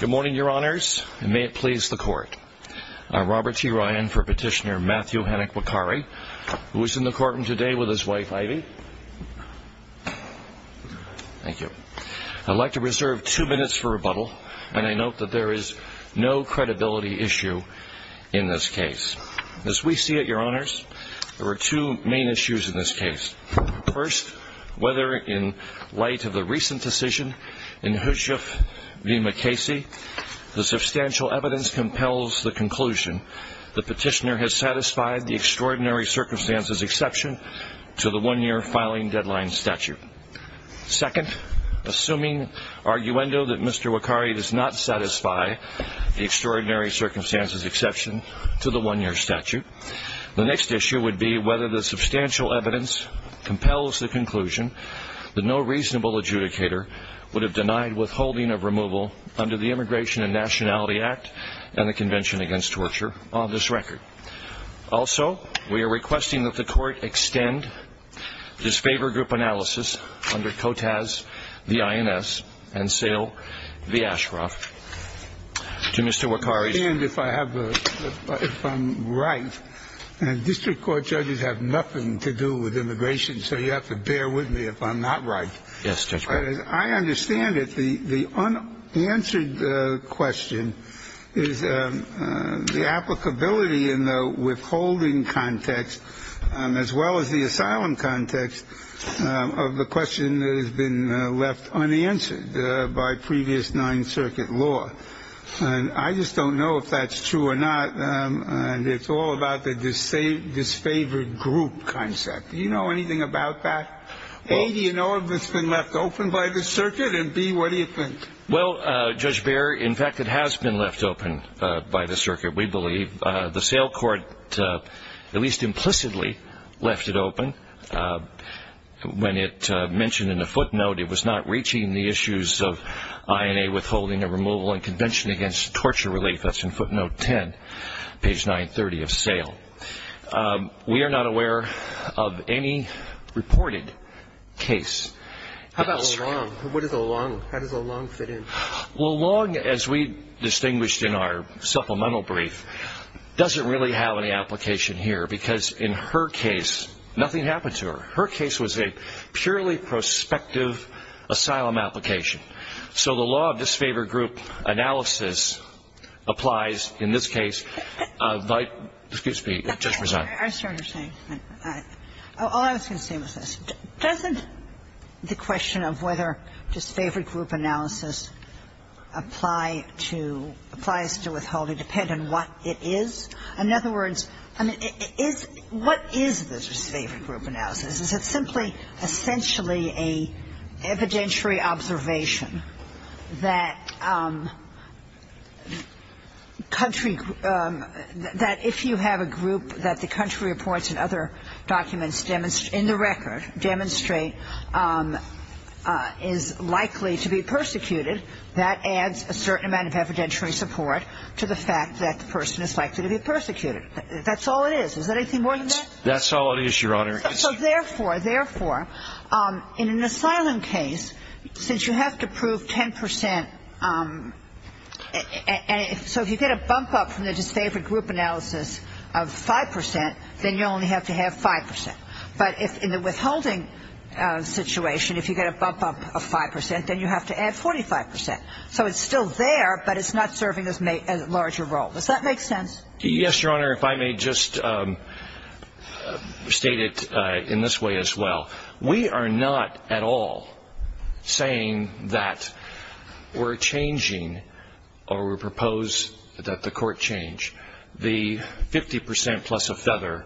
Good morning, Your Honors, and may it please the Court. I'm Robert T. Ryan for Petitioner Matthew Hennick Wakkary, who is in the courtroom today with his wife, Ivy. Thank you. I'd like to reserve two minutes for rebuttal, and I note that there is no credibility issue in this case. As we see it, Your Honors, there are two main issues in this case. First, whether in light of the recent decision in Hushuf v. Mukasey, the substantial evidence compels the conclusion that Petitioner has satisfied the extraordinary circumstances exception to the one-year filing deadline statute. Second, assuming arguendo that Mr. Wakkary does not satisfy the extraordinary circumstances exception to the one-year statute, the next issue would be whether the substantial evidence compels the conclusion that no reasonable adjudicator would have denied withholding of removal under the Immigration and Nationality Act and the Convention Against Torture on this record. Also, we are requesting that the Court extend this favor group analysis under COTAS v. INS and SAIL v. Ashcroft to Mr. Wakkary. I understand if I'm right, and district court judges have nothing to do with immigration, so you have to bear with me if I'm not right. Yes, Judge. As I understand it, the unanswered question is the applicability in the withholding context, as well as the asylum context, of the question that has been left unanswered by previous Ninth Circuit law. I just don't know if that's true or not. It's all about the disfavored group concept. Do you know anything about that? A, do you know if it's been left open by the circuit, and B, what do you think? Well, Judge Behr, in fact, it has been left open by the circuit, we believe. The SAIL court at least implicitly left it open. When it mentioned in the footnote, it was not reaching the issues of INA withholding of removal and Convention Against Torture relief. That's in footnote 10, page 930 of SAIL. We are not aware of any reported case. How about LeLong? What is LeLong? How does LeLong fit in? LeLong, as we distinguished in our supplemental brief, doesn't really have any application here, because in her case, nothing happened to her. Her case was a purely prospective asylum application. So the law of disfavored group analysis applies in this case. Excuse me. Judge Rosano. I was trying to say, all I was going to say was this. Doesn't the question of whether disfavored group analysis applies to withholding depend on what it is? In other words, I mean, what is the disfavored group analysis? Is it simply essentially an evidentiary observation that country group – that if you have a group that the country reports and other documents in the record demonstrate is likely to be persecuted, that adds a certain amount of evidentiary support to the fact that the person is likely to be persecuted. That's all it is. Is there anything more than that? That's all it is, Your Honor. So therefore, therefore, in an asylum case, since you have to prove 10 percent – so if you get a bump up from the disfavored group analysis of 5 percent, then you only have to have 5 percent. But in the withholding situation, if you get a bump up of 5 percent, then you have to add 45 percent. So it's still there, but it's not serving as a larger role. Does that make sense? Yes, Your Honor. If I may just state it in this way as well. We are not at all saying that we're changing or we propose that the court change the 50 percent plus of feather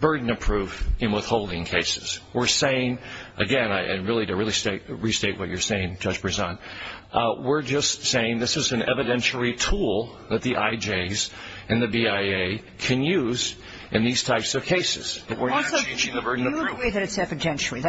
burden of proof in withholding cases. We're saying, again, and really to restate what you're saying, Judge Brisson, we're just saying this is an evidentiary tool that the IJs and the BIA can use in these types of cases. Also, you agree that it's evidentiary.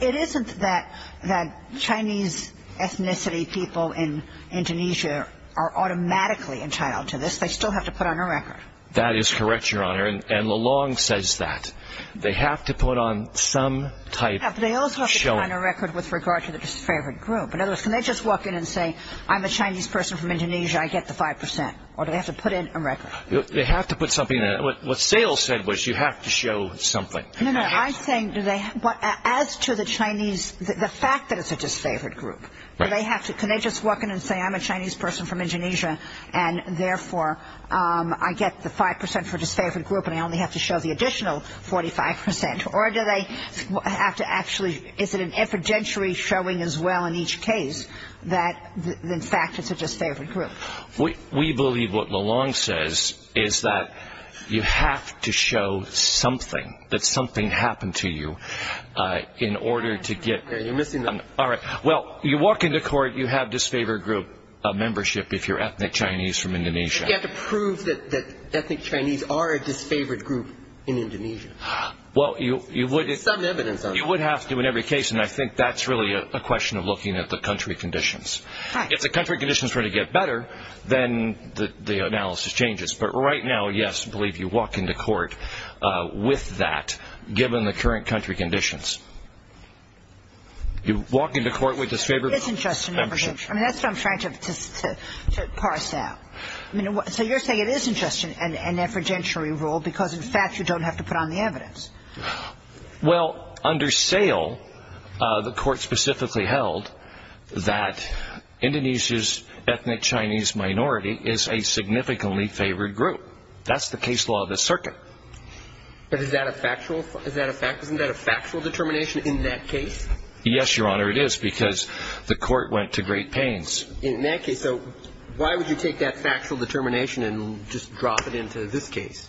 It isn't that Chinese ethnicity people in Indonesia are automatically entitled to this. They still have to put on a record. That is correct, Your Honor, and Lalong says that. They have to put on some type of showing. But they also have to put on a record with regard to the disfavored group. In other words, can they just walk in and say, I'm a Chinese person from Indonesia, I get the 5 percent? Or do they have to put in a record? They have to put something in. What Sayle said was you have to show something. No, no. I'm saying as to the fact that it's a disfavored group, can they just walk in and say, I'm a Chinese person from Indonesia, and therefore I get the 5 percent for disfavored group and I only have to show the additional 45 percent? Or is it an evidentiary showing as well in each case that, in fact, it's a disfavored group? We believe what Lalong says is that you have to show something, that something happened to you in order to get – You're missing the – All right. Well, you walk into court, you have disfavored group membership if you're ethnic Chinese from Indonesia. You have to prove that ethnic Chinese are a disfavored group in Indonesia. Well, you would – There's some evidence on that. You would have to in every case, and I think that's really a question of looking at the country conditions. If the country conditions were to get better, then the analysis changes. But right now, yes, I believe you walk into court with that, given the current country conditions. You walk into court with disfavored group membership. It isn't just an evidentiary. I mean, that's what I'm trying to parse out. So you're saying it isn't just an evidentiary rule because, in fact, you don't have to put on the evidence. Well, under sale, the court specifically held that Indonesia's ethnic Chinese minority is a significantly favored group. That's the case law of the circuit. But is that a factual – isn't that a factual determination in that case? Yes, Your Honor, it is, because the court went to great pains. In that case, so why would you take that factual determination and just drop it into this case?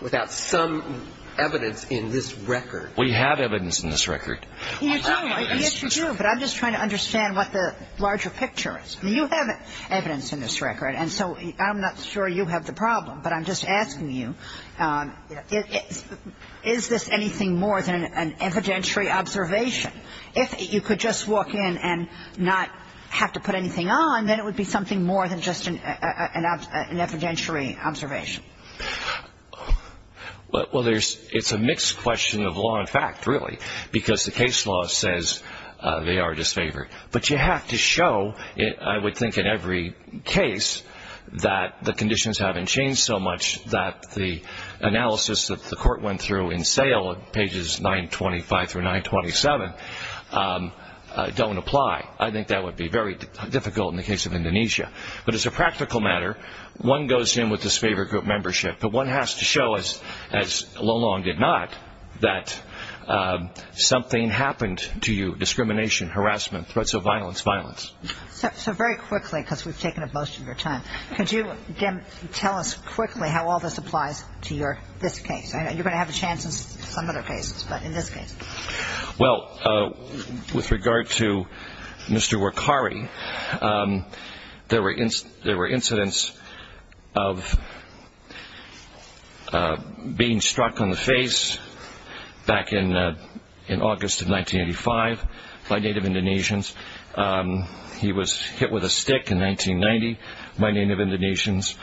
Without some evidence in this record. We have evidence in this record. You do. Yes, you do. But I'm just trying to understand what the larger picture is. I mean, you have evidence in this record, and so I'm not sure you have the problem. But I'm just asking you, is this anything more than an evidentiary observation? If you could just walk in and not have to put anything on, then it would be something more than just an evidentiary observation. Well, it's a mixed question of law and fact, really, because the case law says they are disfavored. But you have to show, I would think in every case, that the conditions haven't changed so much that the analysis that the court went through in sale, pages 925 through 927, don't apply. I think that would be very difficult in the case of Indonesia. But as a practical matter, one goes in with disfavored group membership, but one has to show, as Lo Long did not, that something happened to you, discrimination, harassment, threats of violence, violence. So very quickly, because we've taken up most of your time, could you tell us quickly how all this applies to this case? I know you're going to have a chance in some other cases, but in this case? Well, with regard to Mr. Workari, there were incidents of being struck on the face back in August of 1985 by Native Indonesians. He was hit with a stick in 1990 by Native Indonesians.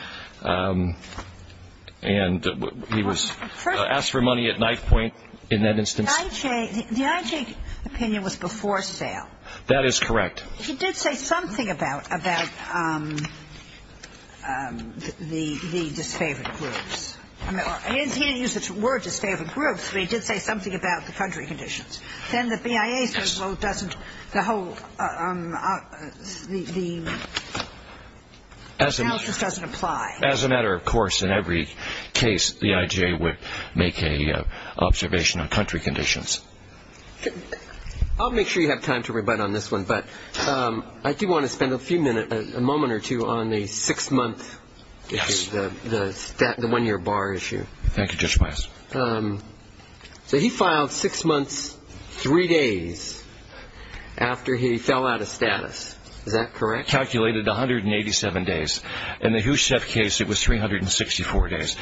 And he was asked for money at knife point in that instance. The IJ opinion was before sale. That is correct. He did say something about the disfavored groups. He didn't use the word disfavored groups, but he did say something about the country conditions. Then the BIA says, well, the analysis doesn't apply. As a matter of course, in every case, the IJ would make an observation on country conditions. I'll make sure you have time to rebut on this one, but I do want to spend a moment or two on the six-month, the one-year bar issue. Thank you, Judge Meyers. So he filed six months, three days after he fell out of status. Is that correct? Calculated 187 days. In the Husef case, it was 364 days.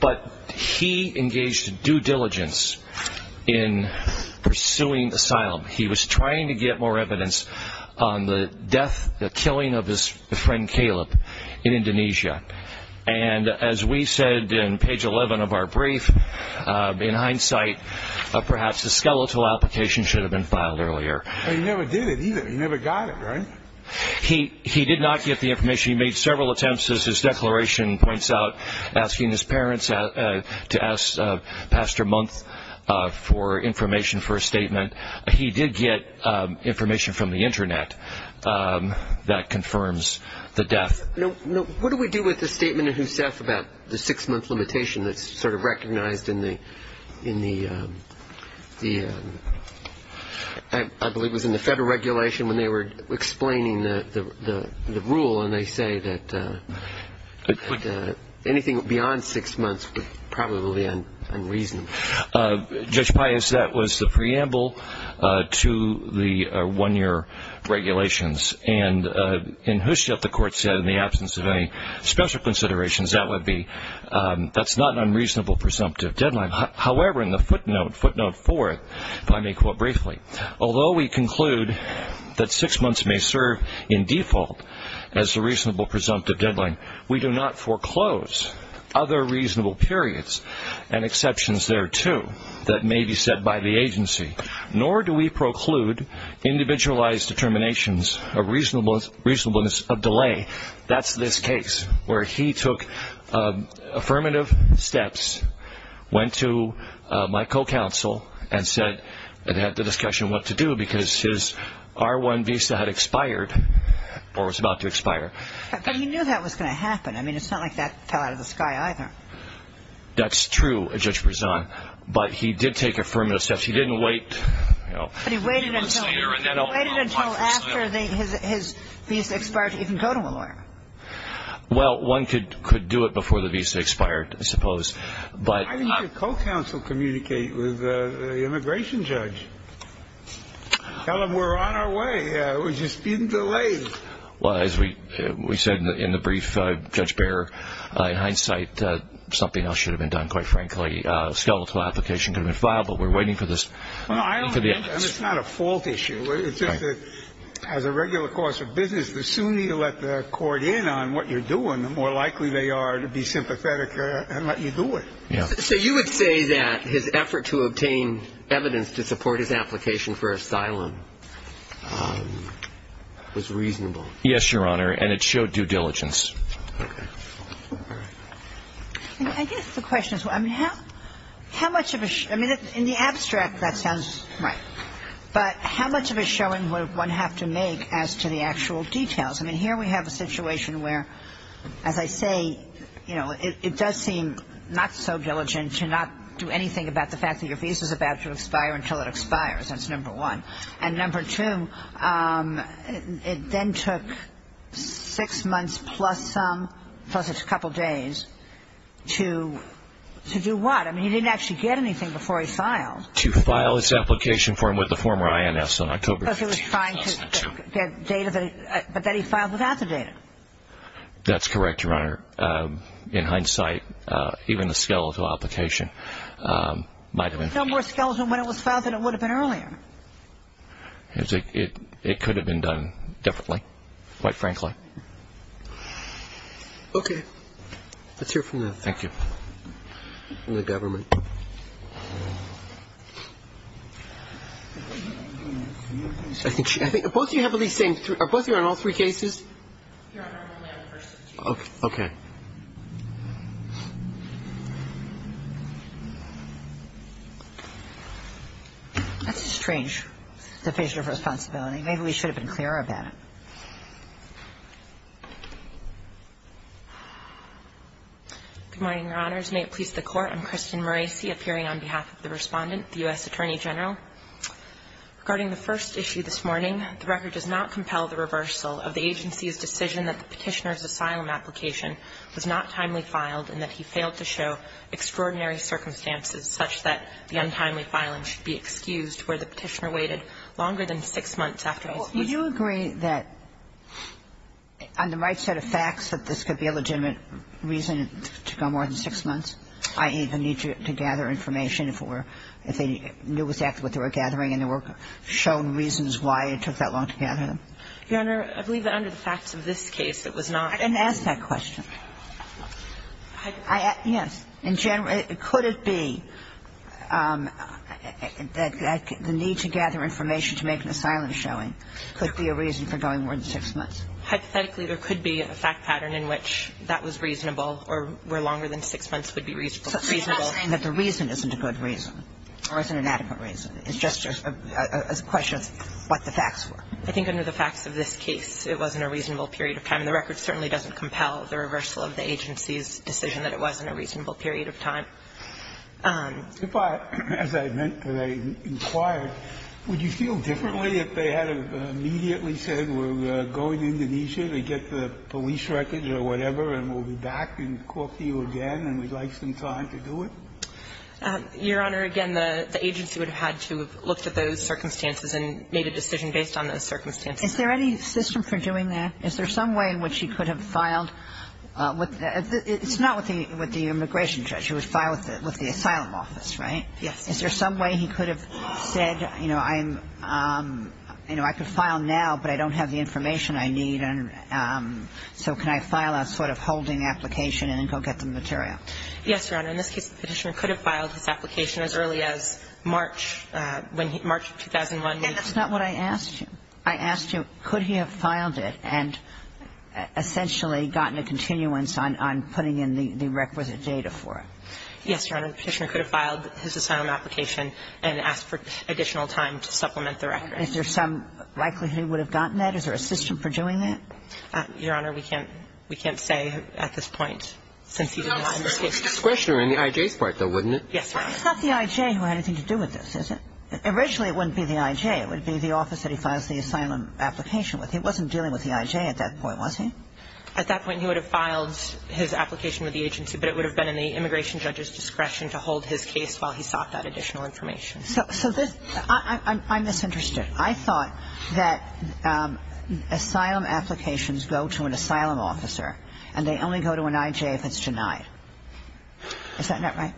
But he engaged in due diligence in pursuing asylum. He was trying to get more evidence on the death, the killing of his friend, Caleb, in Indonesia. And as we said in page 11 of our brief, in hindsight, perhaps a skeletal application should have been filed earlier. But he never did it either. He never got it, right? He did not get the information. He made several attempts, as his declaration points out, asking his parents to ask Pastor Month for information for a statement. He did get information from the Internet that confirms the death. What do we do with the statement in Husef about the six-month limitation that's sort of recognized in the, I believe it was in the federal regulation when they were explaining the rule, and they say that anything beyond six months probably will be unreasonable. Judge Pius, that was the preamble to the one-year regulations. And in Husef, the court said in the absence of any special considerations, that would be that's not an unreasonable presumptive deadline. However, in the footnote, footnote four, if I may quote briefly, although we conclude that six months may serve in default as a reasonable presumptive deadline, we do not foreclose other reasonable periods and exceptions thereto that may be set by the agency, nor do we preclude individualized determinations of reasonableness of delay. That's this case where he took affirmative steps, went to my co-counsel and said, and had the discussion what to do because his R1 visa had expired or was about to expire. But he knew that was going to happen. I mean, it's not like that fell out of the sky either. That's true, Judge Prezant, but he did take affirmative steps. He didn't wait, you know. But he waited until after his visa expired to even go to a lawyer. Well, one could do it before the visa expired, I suppose. Why didn't your co-counsel communicate with the immigration judge? Tell him we're on our way. We're just being delayed. Well, as we said in the brief, Judge Behr, in hindsight, something else should have been done, quite frankly. I mean, I don't know how a skeletal application could have been filed, but we're waiting for this. No, I don't think it's not a fault issue. It's just that as a regular course of business, the sooner you let the court in on what you're doing, the more likely they are to be sympathetic and let you do it. So you would say that his effort to obtain evidence to support his application for asylum was reasonable? Yes, Your Honor, and it showed due diligence. I guess the question is, I mean, how much of a ‑‑ I mean, in the abstract, that sounds right. But how much of a showing would one have to make as to the actual details? I mean, here we have a situation where, as I say, you know, it does seem not so diligent to not do anything about the fact that your visa is about to expire until it expires. That's number one. And number two, it then took six months plus some, plus a couple days, to do what? I mean, he didn't actually get anything before he filed. To file his application form with the former INS on October 15, 2002. Because he was trying to get data, but that he filed without the data. That's correct, Your Honor. In hindsight, even the skeletal application might have been. The number of skeletons when it was filed, it would have been earlier. It could have been done differently, quite frankly. Okay. Let's hear from the ‑‑ Thank you. From the government. I think both of you have at least the same, are both of you on all three cases? Okay. That's a strange definition of responsibility. Maybe we should have been clearer about it. Good morning, Your Honors. May it please the Court. I'm Kristen Morasi, appearing on behalf of the Respondent, the U.S. Attorney General. Regarding the first issue this morning, the record does not compel the reversal of the agency's decision that the Petitioner's asylum application was not timely filed and that he failed to show extraordinary circumstances such that the untimely filing should be excused where the Petitioner waited longer than six months after his ‑‑ Well, would you agree that, on the right set of facts, that this could be a legitimate reason to go more than six months? I.e., the need to gather information if it were ‑‑ if they knew exactly what they were gathering and there were shown reasons why it took that long to gather them? Your Honor, I believe that under the facts of this case, it was not ‑‑ And ask that question. Yes. In general, could it be that the need to gather information to make an asylum showing could be a reason for going more than six months? Hypothetically, there could be a fact pattern in which that was reasonable or where going more than six months would be reasonable. So you're not saying that the reason isn't a good reason or isn't an adequate reason. It's just a question of what the facts were. I think under the facts of this case, it wasn't a reasonable period of time. The record certainly doesn't compel the reversal of the agency's decision that it wasn't a reasonable period of time. If I ‑‑ as I meant when I inquired, would you feel differently if they had immediately said we're going to Indonesia to get the police records or whatever and we'll be back and call to you again and we'd like some time to do it? Your Honor, again, the agency would have had to have looked at those circumstances and made a decision based on those circumstances. Is there any system for doing that? Is there some way in which he could have filed with ‑‑ it's not with the immigration judge who would file with the asylum office, right? Yes. Is there some way he could have said, you know, I'm ‑‑ you know, I could file now, but I don't have the information I need, and so can I file a sort of holding application and then go get the material? Yes, Your Honor. In this case, the Petitioner could have filed his application as early as March, when he ‑‑ March of 2001. That's not what I asked you. I asked you, could he have filed it and essentially gotten a continuance on putting in the requisite data for it? Yes, Your Honor. The Petitioner could have filed his asylum application and asked for additional time to supplement the record. Is there some likelihood he would have gotten that? Is there a system for doing that? Your Honor, we can't ‑‑ we can't say at this point, since he's alive. It's discretionary on the I.J.'s part, though, wouldn't it? Yes, Your Honor. It's not the I.J. who had anything to do with this, is it? Originally, it wouldn't be the I.J. It would be the office that he files the asylum application with. He wasn't dealing with the I.J. at that point, was he? At that point, he would have filed his application with the agency, but it would have been in the immigration judge's discretion to hold his case while he sought that additional information. So this ‑‑ I'm misinterested. I thought that asylum applications go to an asylum officer, and they only go to an I.J. if it's denied. Is that not right?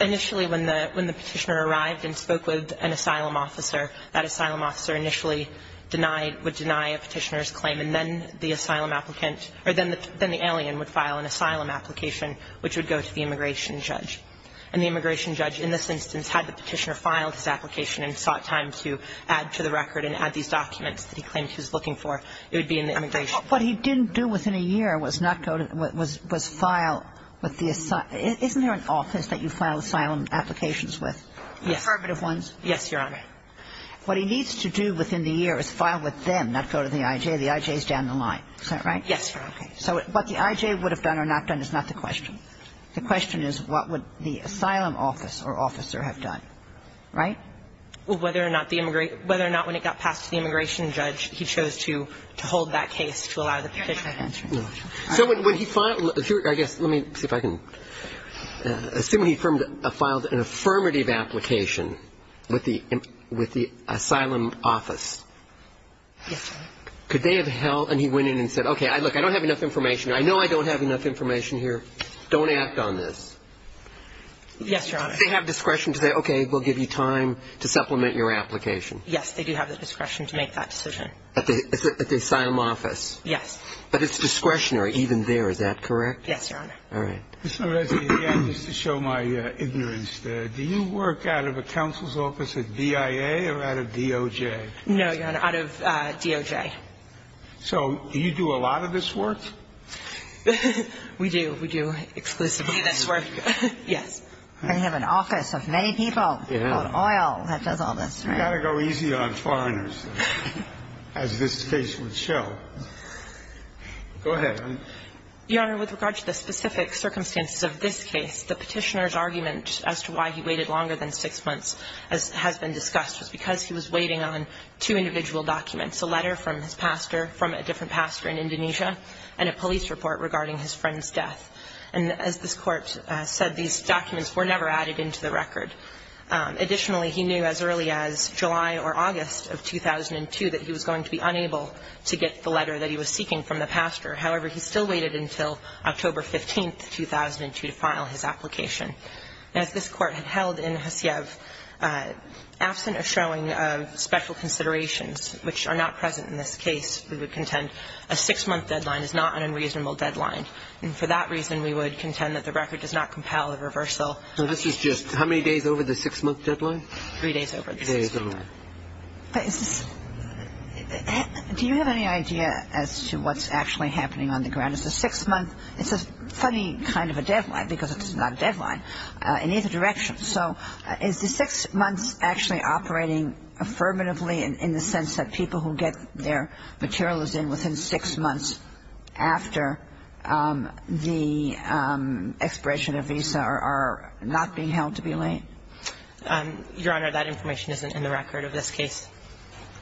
Initially, when the Petitioner arrived and spoke with an asylum officer, that asylum officer initially denied ‑‑ would deny a Petitioner's claim, and then the asylum applicant ‑‑ or then the alien would file an asylum application, which would go to the immigration judge. And the immigration judge, in this instance, had the Petitioner filed his application and sought time to add to the record and add these documents that he claimed he was looking for. It would be in the immigration ‑‑ But what he didn't do within a year was not go to ‑‑ was file with the ‑‑ isn't there an office that you file asylum applications with? Yes. Affirmative ones? Yes, Your Honor. What he needs to do within the year is file with them, not go to the I.J. The I.J. is down the line. Is that right? Yes, Your Honor. Okay. So what the I.J. would have done or not done is not the question. The question is what would the asylum office or officer have done. Right? Well, whether or not the ‑‑ whether or not when it got passed to the immigration judge, he chose to hold that case to allow the Petitioner to answer. No. So when he filed ‑‑ I guess, let me see if I can ‑‑ assume he filed an affirmative application with the asylum office. Yes, Your Honor. Could they have held ‑‑ and he went in and said, okay, look, I don't have enough information. I know I don't have enough information here. Don't act on this. Yes, Your Honor. Do they have discretion to say, okay, we'll give you time to supplement your application? Yes, they do have the discretion to make that decision. At the asylum office? Yes. But it's discretionary even there. Is that correct? Yes, Your Honor. All right. Ms. Oreskes, again, just to show my ignorance, do you work out of a counsel's office at BIA or out of DOJ? No, Your Honor, out of DOJ. So do you do a lot of this work? We do. We do exclusively this work. Do you? Yes. And you have an office of many people on oil that does all this, right? You've got to go easy on foreigners, as this case would show. Go ahead. Your Honor, with regard to the specific circumstances of this case, the Petitioner's argument as to why he waited longer than six months, as has been discussed, was because he was waiting on two individual documents, a letter from his pastor from a different pastor in Indonesia, and a police report regarding his friend's death. And as this Court said, these documents were never added into the record. Additionally, he knew as early as July or August of 2002 that he was going to be unable to get the letter that he was seeking from the pastor. However, he still waited until October 15, 2002, to file his application. And as this Court had held in Haciev, absent a showing of special considerations which are not present in this case, we would contend a six-month deadline is not an unreasonable deadline. And for that reason, we would contend that the record does not compel a reversal. So this is just how many days over the six-month deadline? Three days over the six-month deadline. Three days over the deadline. But is this – do you have any idea as to what's actually happening on the ground? Is the six-month – it's a funny kind of a deadline, because it's not a deadline in either direction. So is the six months actually operating affirmatively in the sense that people who get their materials in within six months after the expiration of Visa are not being held to be late? Your Honor, that information isn't in the record of this case.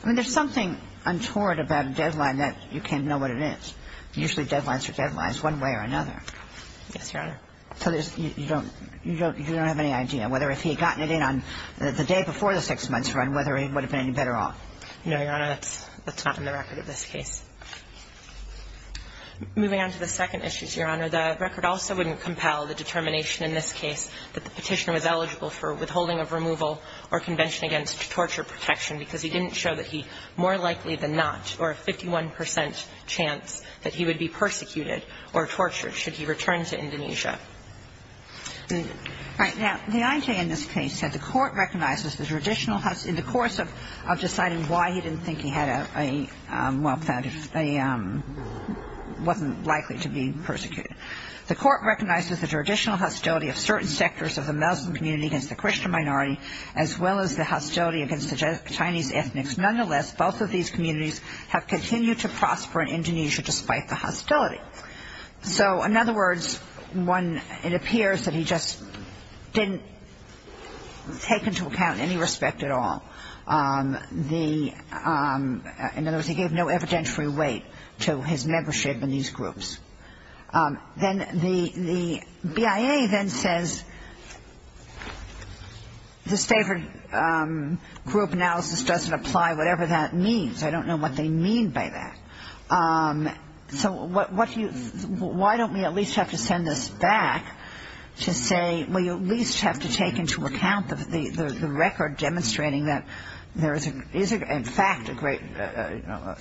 I mean, there's something untoward about a deadline that you can't know what it is. Usually deadlines are deadlines one way or another. Yes, Your Honor. So you don't – you don't have any idea whether if he had gotten it in on the day before the six-months run, whether he would have been any better off? No, Your Honor. That's not in the record of this case. Moving on to the second issue, Your Honor, the record also wouldn't compel the determination in this case that the Petitioner was eligible for withholding of removal or convention against torture protection because he didn't show that he more likely than not or a 51 percent chance that he would be persecuted or tortured should he return to Indonesia. All right. Now, the IJ in this case said the Court recognizes the traditional – in the course of deciding why he didn't think he had a – well, that he wasn't likely to be persecuted. The Court recognizes the traditional hostility of certain sectors of the Muslim community against the Christian minority as well as the hostility against the Chinese ethnics. Nonetheless, both of these communities have continued to prosper in Indonesia despite the hostility. So, in other words, one – it appears that he just didn't take into account any respect at all. The – in other words, he gave no evidentiary weight to his membership in these groups. Then the BIA then says, this favored group analysis doesn't apply, whatever that means. I don't know what they mean by that. So what do you – why don't we at least have to send this back to say, well, you at least have to take into account the record demonstrating that there is, in fact, a great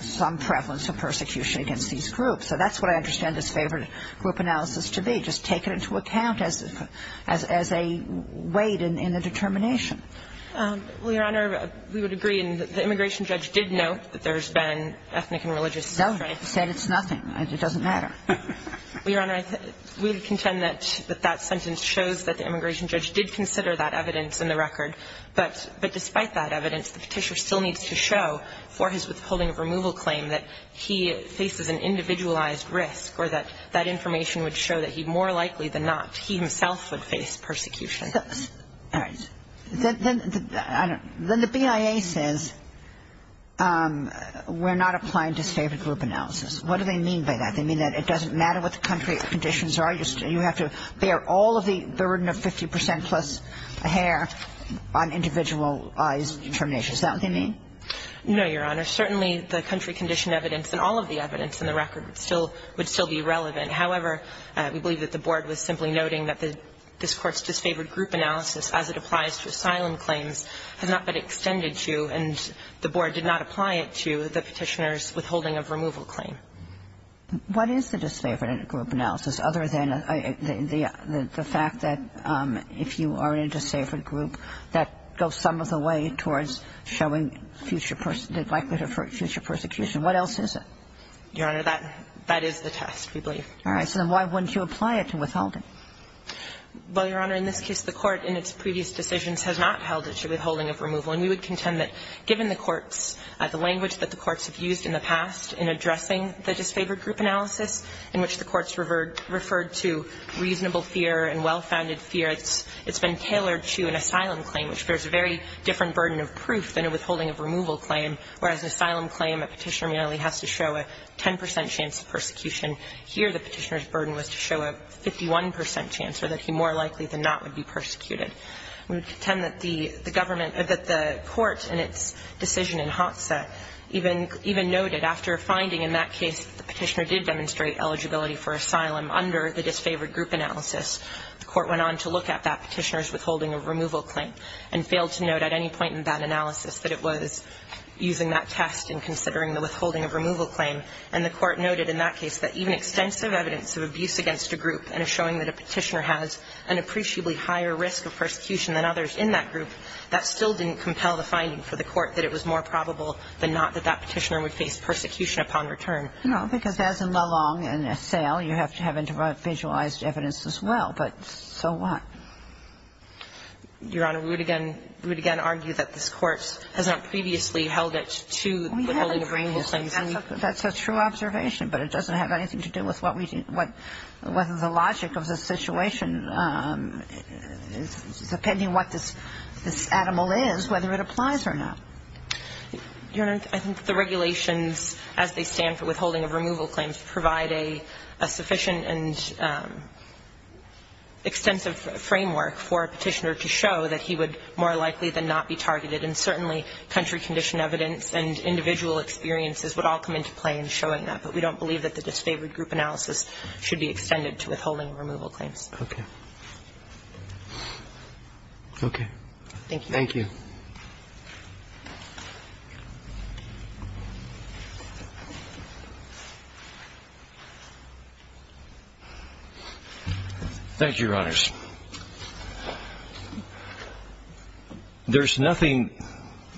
– some prevalence of persecution against these groups. So that's what I understand this favored group analysis to be, just take it into account as a weight in the determination. Well, Your Honor, we would agree. And the immigration judge did note that there's been ethnic and religious – No, he said it's nothing. It doesn't matter. Well, Your Honor, we would contend that that sentence shows that the immigration judge did consider that evidence in the record. But despite that evidence, the Petitioner still needs to show for his withholding of removal claim that he faces an individualized risk or that that information would show that he more likely than not, he himself would face persecution. All right. Then the BIA says we're not applying to favored group analysis. What do they mean by that? They mean that it doesn't matter what the country conditions are. You have to bear all of the burden of 50 percent plus a hair on individualized determination. Is that what they mean? No, Your Honor. Certainly, the country condition evidence and all of the evidence in the record would still be relevant. However, we believe that the Board was simply noting that this Court's disfavored group analysis, as it applies to asylum claims, has not been extended to, and the Board did not apply it to the Petitioner's withholding of removal claim. What is the disfavored group analysis other than the fact that if you are in a disfavored group, that goes some of the way towards showing future person, likelihood of future persecution? What else is it? Your Honor, that is the test, we believe. All right. So then why wouldn't you apply it to withholding? Well, Your Honor, in this case, the Court in its previous decisions has not held it to withholding of removal, and we would contend that given the courts, the language that the courts have used in the past in addressing the disfavored group analysis in which the courts referred to reasonable fear and well-founded fear, it's been tailored to an asylum claim, which bears a very different burden of proof than a withholding of removal claim, whereas an asylum claim, a Petitioner merely has to show a 10 percent chance of persecution. Here, the Petitioner's burden was to show a 51 percent chance, or that he more likely than not would be persecuted. We would contend that the government or that the Court in its decision in Hotza even noted, after finding in that case that the Petitioner did demonstrate eligibility for asylum under the disfavored group analysis, the Court went on to look at that Petitioner's withholding of removal claim and failed to note at any point in that analysis that it was using that test in considering the withholding of removal claim. And the Court noted in that case that even extensive evidence of abuse against a group and showing that a Petitioner has an appreciably higher risk of persecution than others in that group, that still didn't compel the finding for the Court that it was more probable than not that that Petitioner would face persecution upon return. And I'm not going to argue that the Court did not hold that Petitioner should be removed from the Petitioner's claim. No. Because as in Malang and Asselt, you have to have individualized evidence as well. But so what? Your Honor, we would again argue that this Court has not previously held it to the holding of removal claims. That's a true observation, but it doesn't have anything to do with what we do, what the logic of the situation is, depending what this animal is, whether it applies or not. Your Honor, I think the regulations as they stand for withholding of removal claims provide a sufficient and extensive framework for a Petitioner to show that he would more likely than not be targeted. And certainly, country condition evidence and individual experiences would all come into play in showing that. But we don't believe that the disfavored group analysis should be extended to withholding of removal claims. Okay. Okay. Thank you. Thank you. Thank you, Your Honors. There's nothing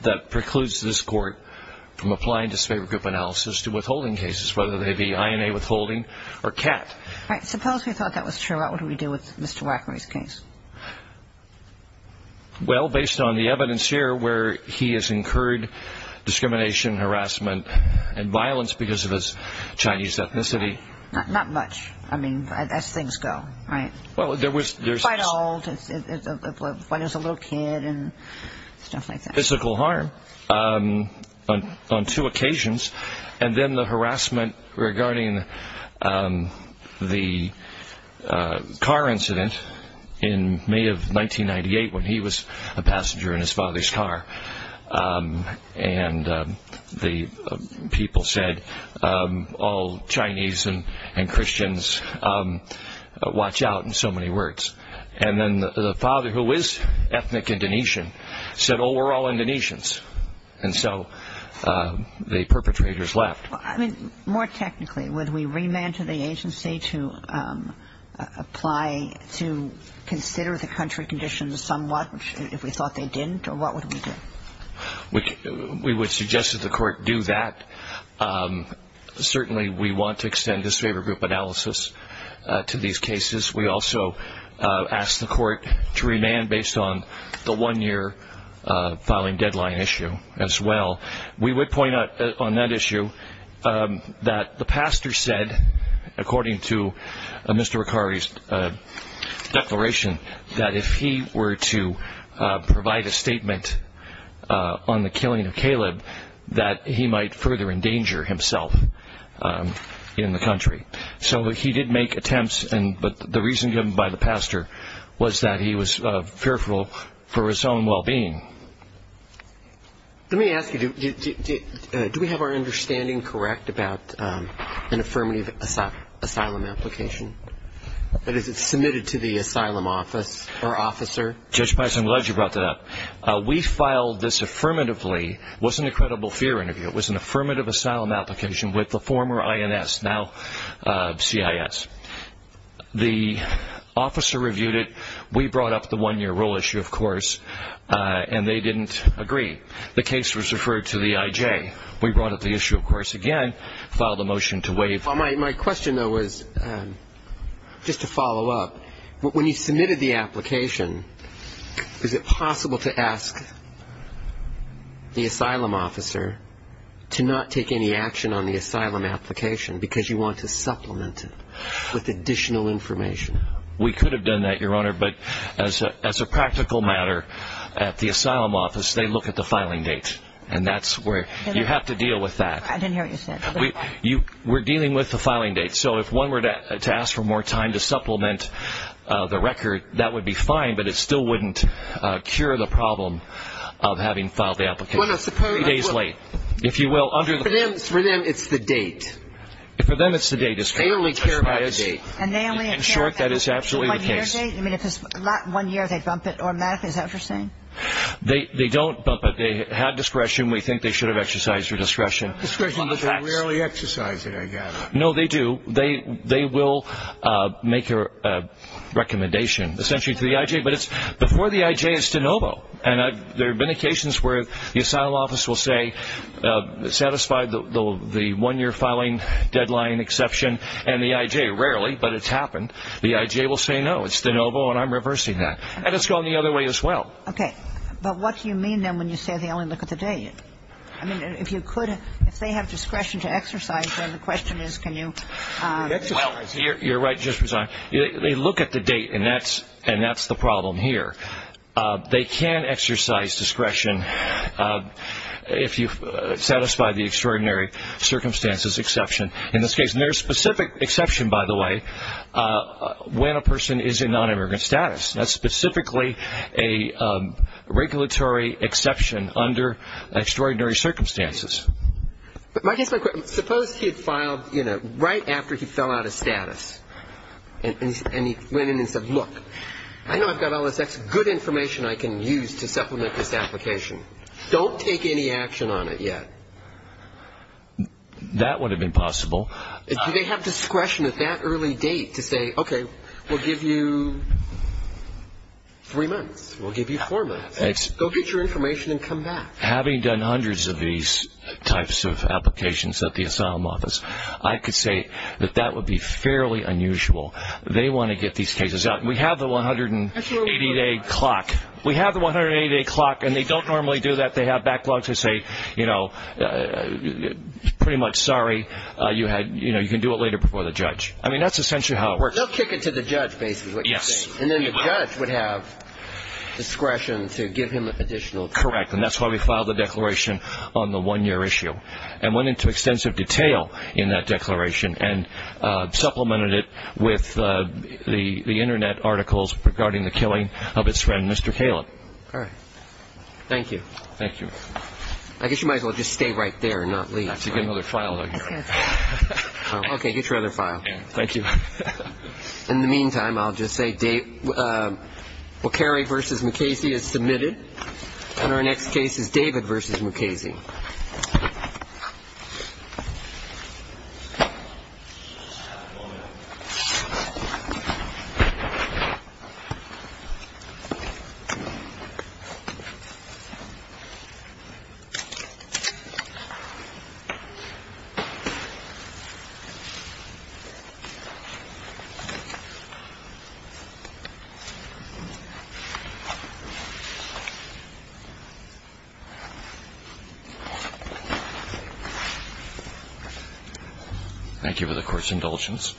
that precludes this Court from applying disfavored group analysis to withholding cases, whether they be INA withholding or CAT. All right. Suppose we thought that was true. What would we do with Mr. Wackery's case? Well, based on the evidence here where he has incurred discrimination, harassment and violence because of his Chinese ethnicity. Not much. I mean, as things go, right? Quite old. When he was a little kid and stuff like that. Physical harm on two occasions. And then the harassment regarding the car incident in May of 1998 when he was a passenger in his father's car. And the people said, all Chinese and Christians, watch out in so many words. And then the father, who is ethnic Indonesian, said, oh, we're all Indonesians. And so the perpetrators left. I mean, more technically, would we remand to the agency to apply to consider the country conditions somewhat if we thought they didn't, or what would we do? We would suggest that the Court do that. Certainly we want to extend disfavored group analysis to these cases. We also ask the Court to remand based on the one-year filing deadline issue as well. We would point out on that issue that the pastor said, according to Mr. Wackery's declaration, that if he were to provide a statement on the killing of Caleb, that he might further endanger himself in the country. So he did make attempts, but the reason given by the pastor was that he was fearful for his own well-being. Let me ask you, do we have our understanding correct about an affirmative asylum application? That is, it's submitted to the asylum office or officer. Judge Pice, I'm glad you brought that up. We filed this affirmatively. It was an incredible fear interview. It was an affirmative asylum application with the former INS, now CIS. The officer reviewed it. We brought up the one-year rule issue, of course, and they didn't agree. The case was referred to the IJ. We brought up the issue, of course, again, filed a motion to waive. My question, though, was just to follow up. When you submitted the application, is it possible to ask the asylum officer to not take any action on the asylum application because you want to supplement it with additional information? We could have done that, Your Honor, but as a practical matter at the asylum office, they look at the filing date, and that's where you have to deal with that. I didn't hear what you said. We're dealing with the filing date. So if one were to ask for more time to supplement the record, that would be fine, but it still wouldn't cure the problem of having filed the application three days late. For them, it's the date. For them, it's the date. They only care about the date. In short, that is absolutely the case. One-year date? I mean, if it's not one year, they bump it. Or, Matt, is that what you're saying? They don't bump it. They have discretion. We think they should have exercised their discretion. Discretion, but they rarely exercise it, I gather. No, they do. They will make a recommendation, essentially, to the I.J., but it's before the I.J. is de novo, and there have been occasions where the asylum office will say, satisfy the one-year filing deadline exception and the I.J. Rarely, but it's happened. The I.J. will say, no, it's de novo, and I'm reversing that. And it's gone the other way as well. Okay. But what do you mean, then, when you say they only look at the date? I mean, if you could, if they have discretion to exercise, then the question is, can you? Well, you're right, Justice Breyer. They look at the date, and that's the problem here. They can exercise discretion if you satisfy the extraordinary circumstances exception in this case. And there's a specific exception, by the way, when a person is in non-immigrant status. That's specifically a regulatory exception under extraordinary circumstances. Suppose he had filed right after he fell out of status, and he went in and said, look, I know I've got all this good information I can use to supplement this application. Don't take any action on it yet. That would have been possible. Do they have discretion at that early date to say, okay, we'll give you three months. We'll give you four months. Go get your information and come back. Having done hundreds of these types of applications at the asylum office, I could say that that would be fairly unusual. They want to get these cases out. We have the 180-day clock. We have the 180-day clock, and they don't normally do that. They have backlogs. They say, pretty much, sorry, you can do it later before the judge. I mean, that's essentially how it works. They'll kick it to the judge, basically, is what you're saying. Yes. And then the judge would have discretion to give him additional time. Correct. And that's why we filed the declaration on the one-year issue and went into extensive detail in that declaration and supplemented it with the Internet articles regarding the killing of his friend, Mr. Caleb. All right. Thank you. Thank you. I guess you might as well just stay right there and not leave. I have to get another trial done here. Okay. Get your other file. Thank you. In the meantime, I'll just say Walkeri v. Mukasey is submitted, and our next case is David v. Mukasey. Thank you for the court's indulgence.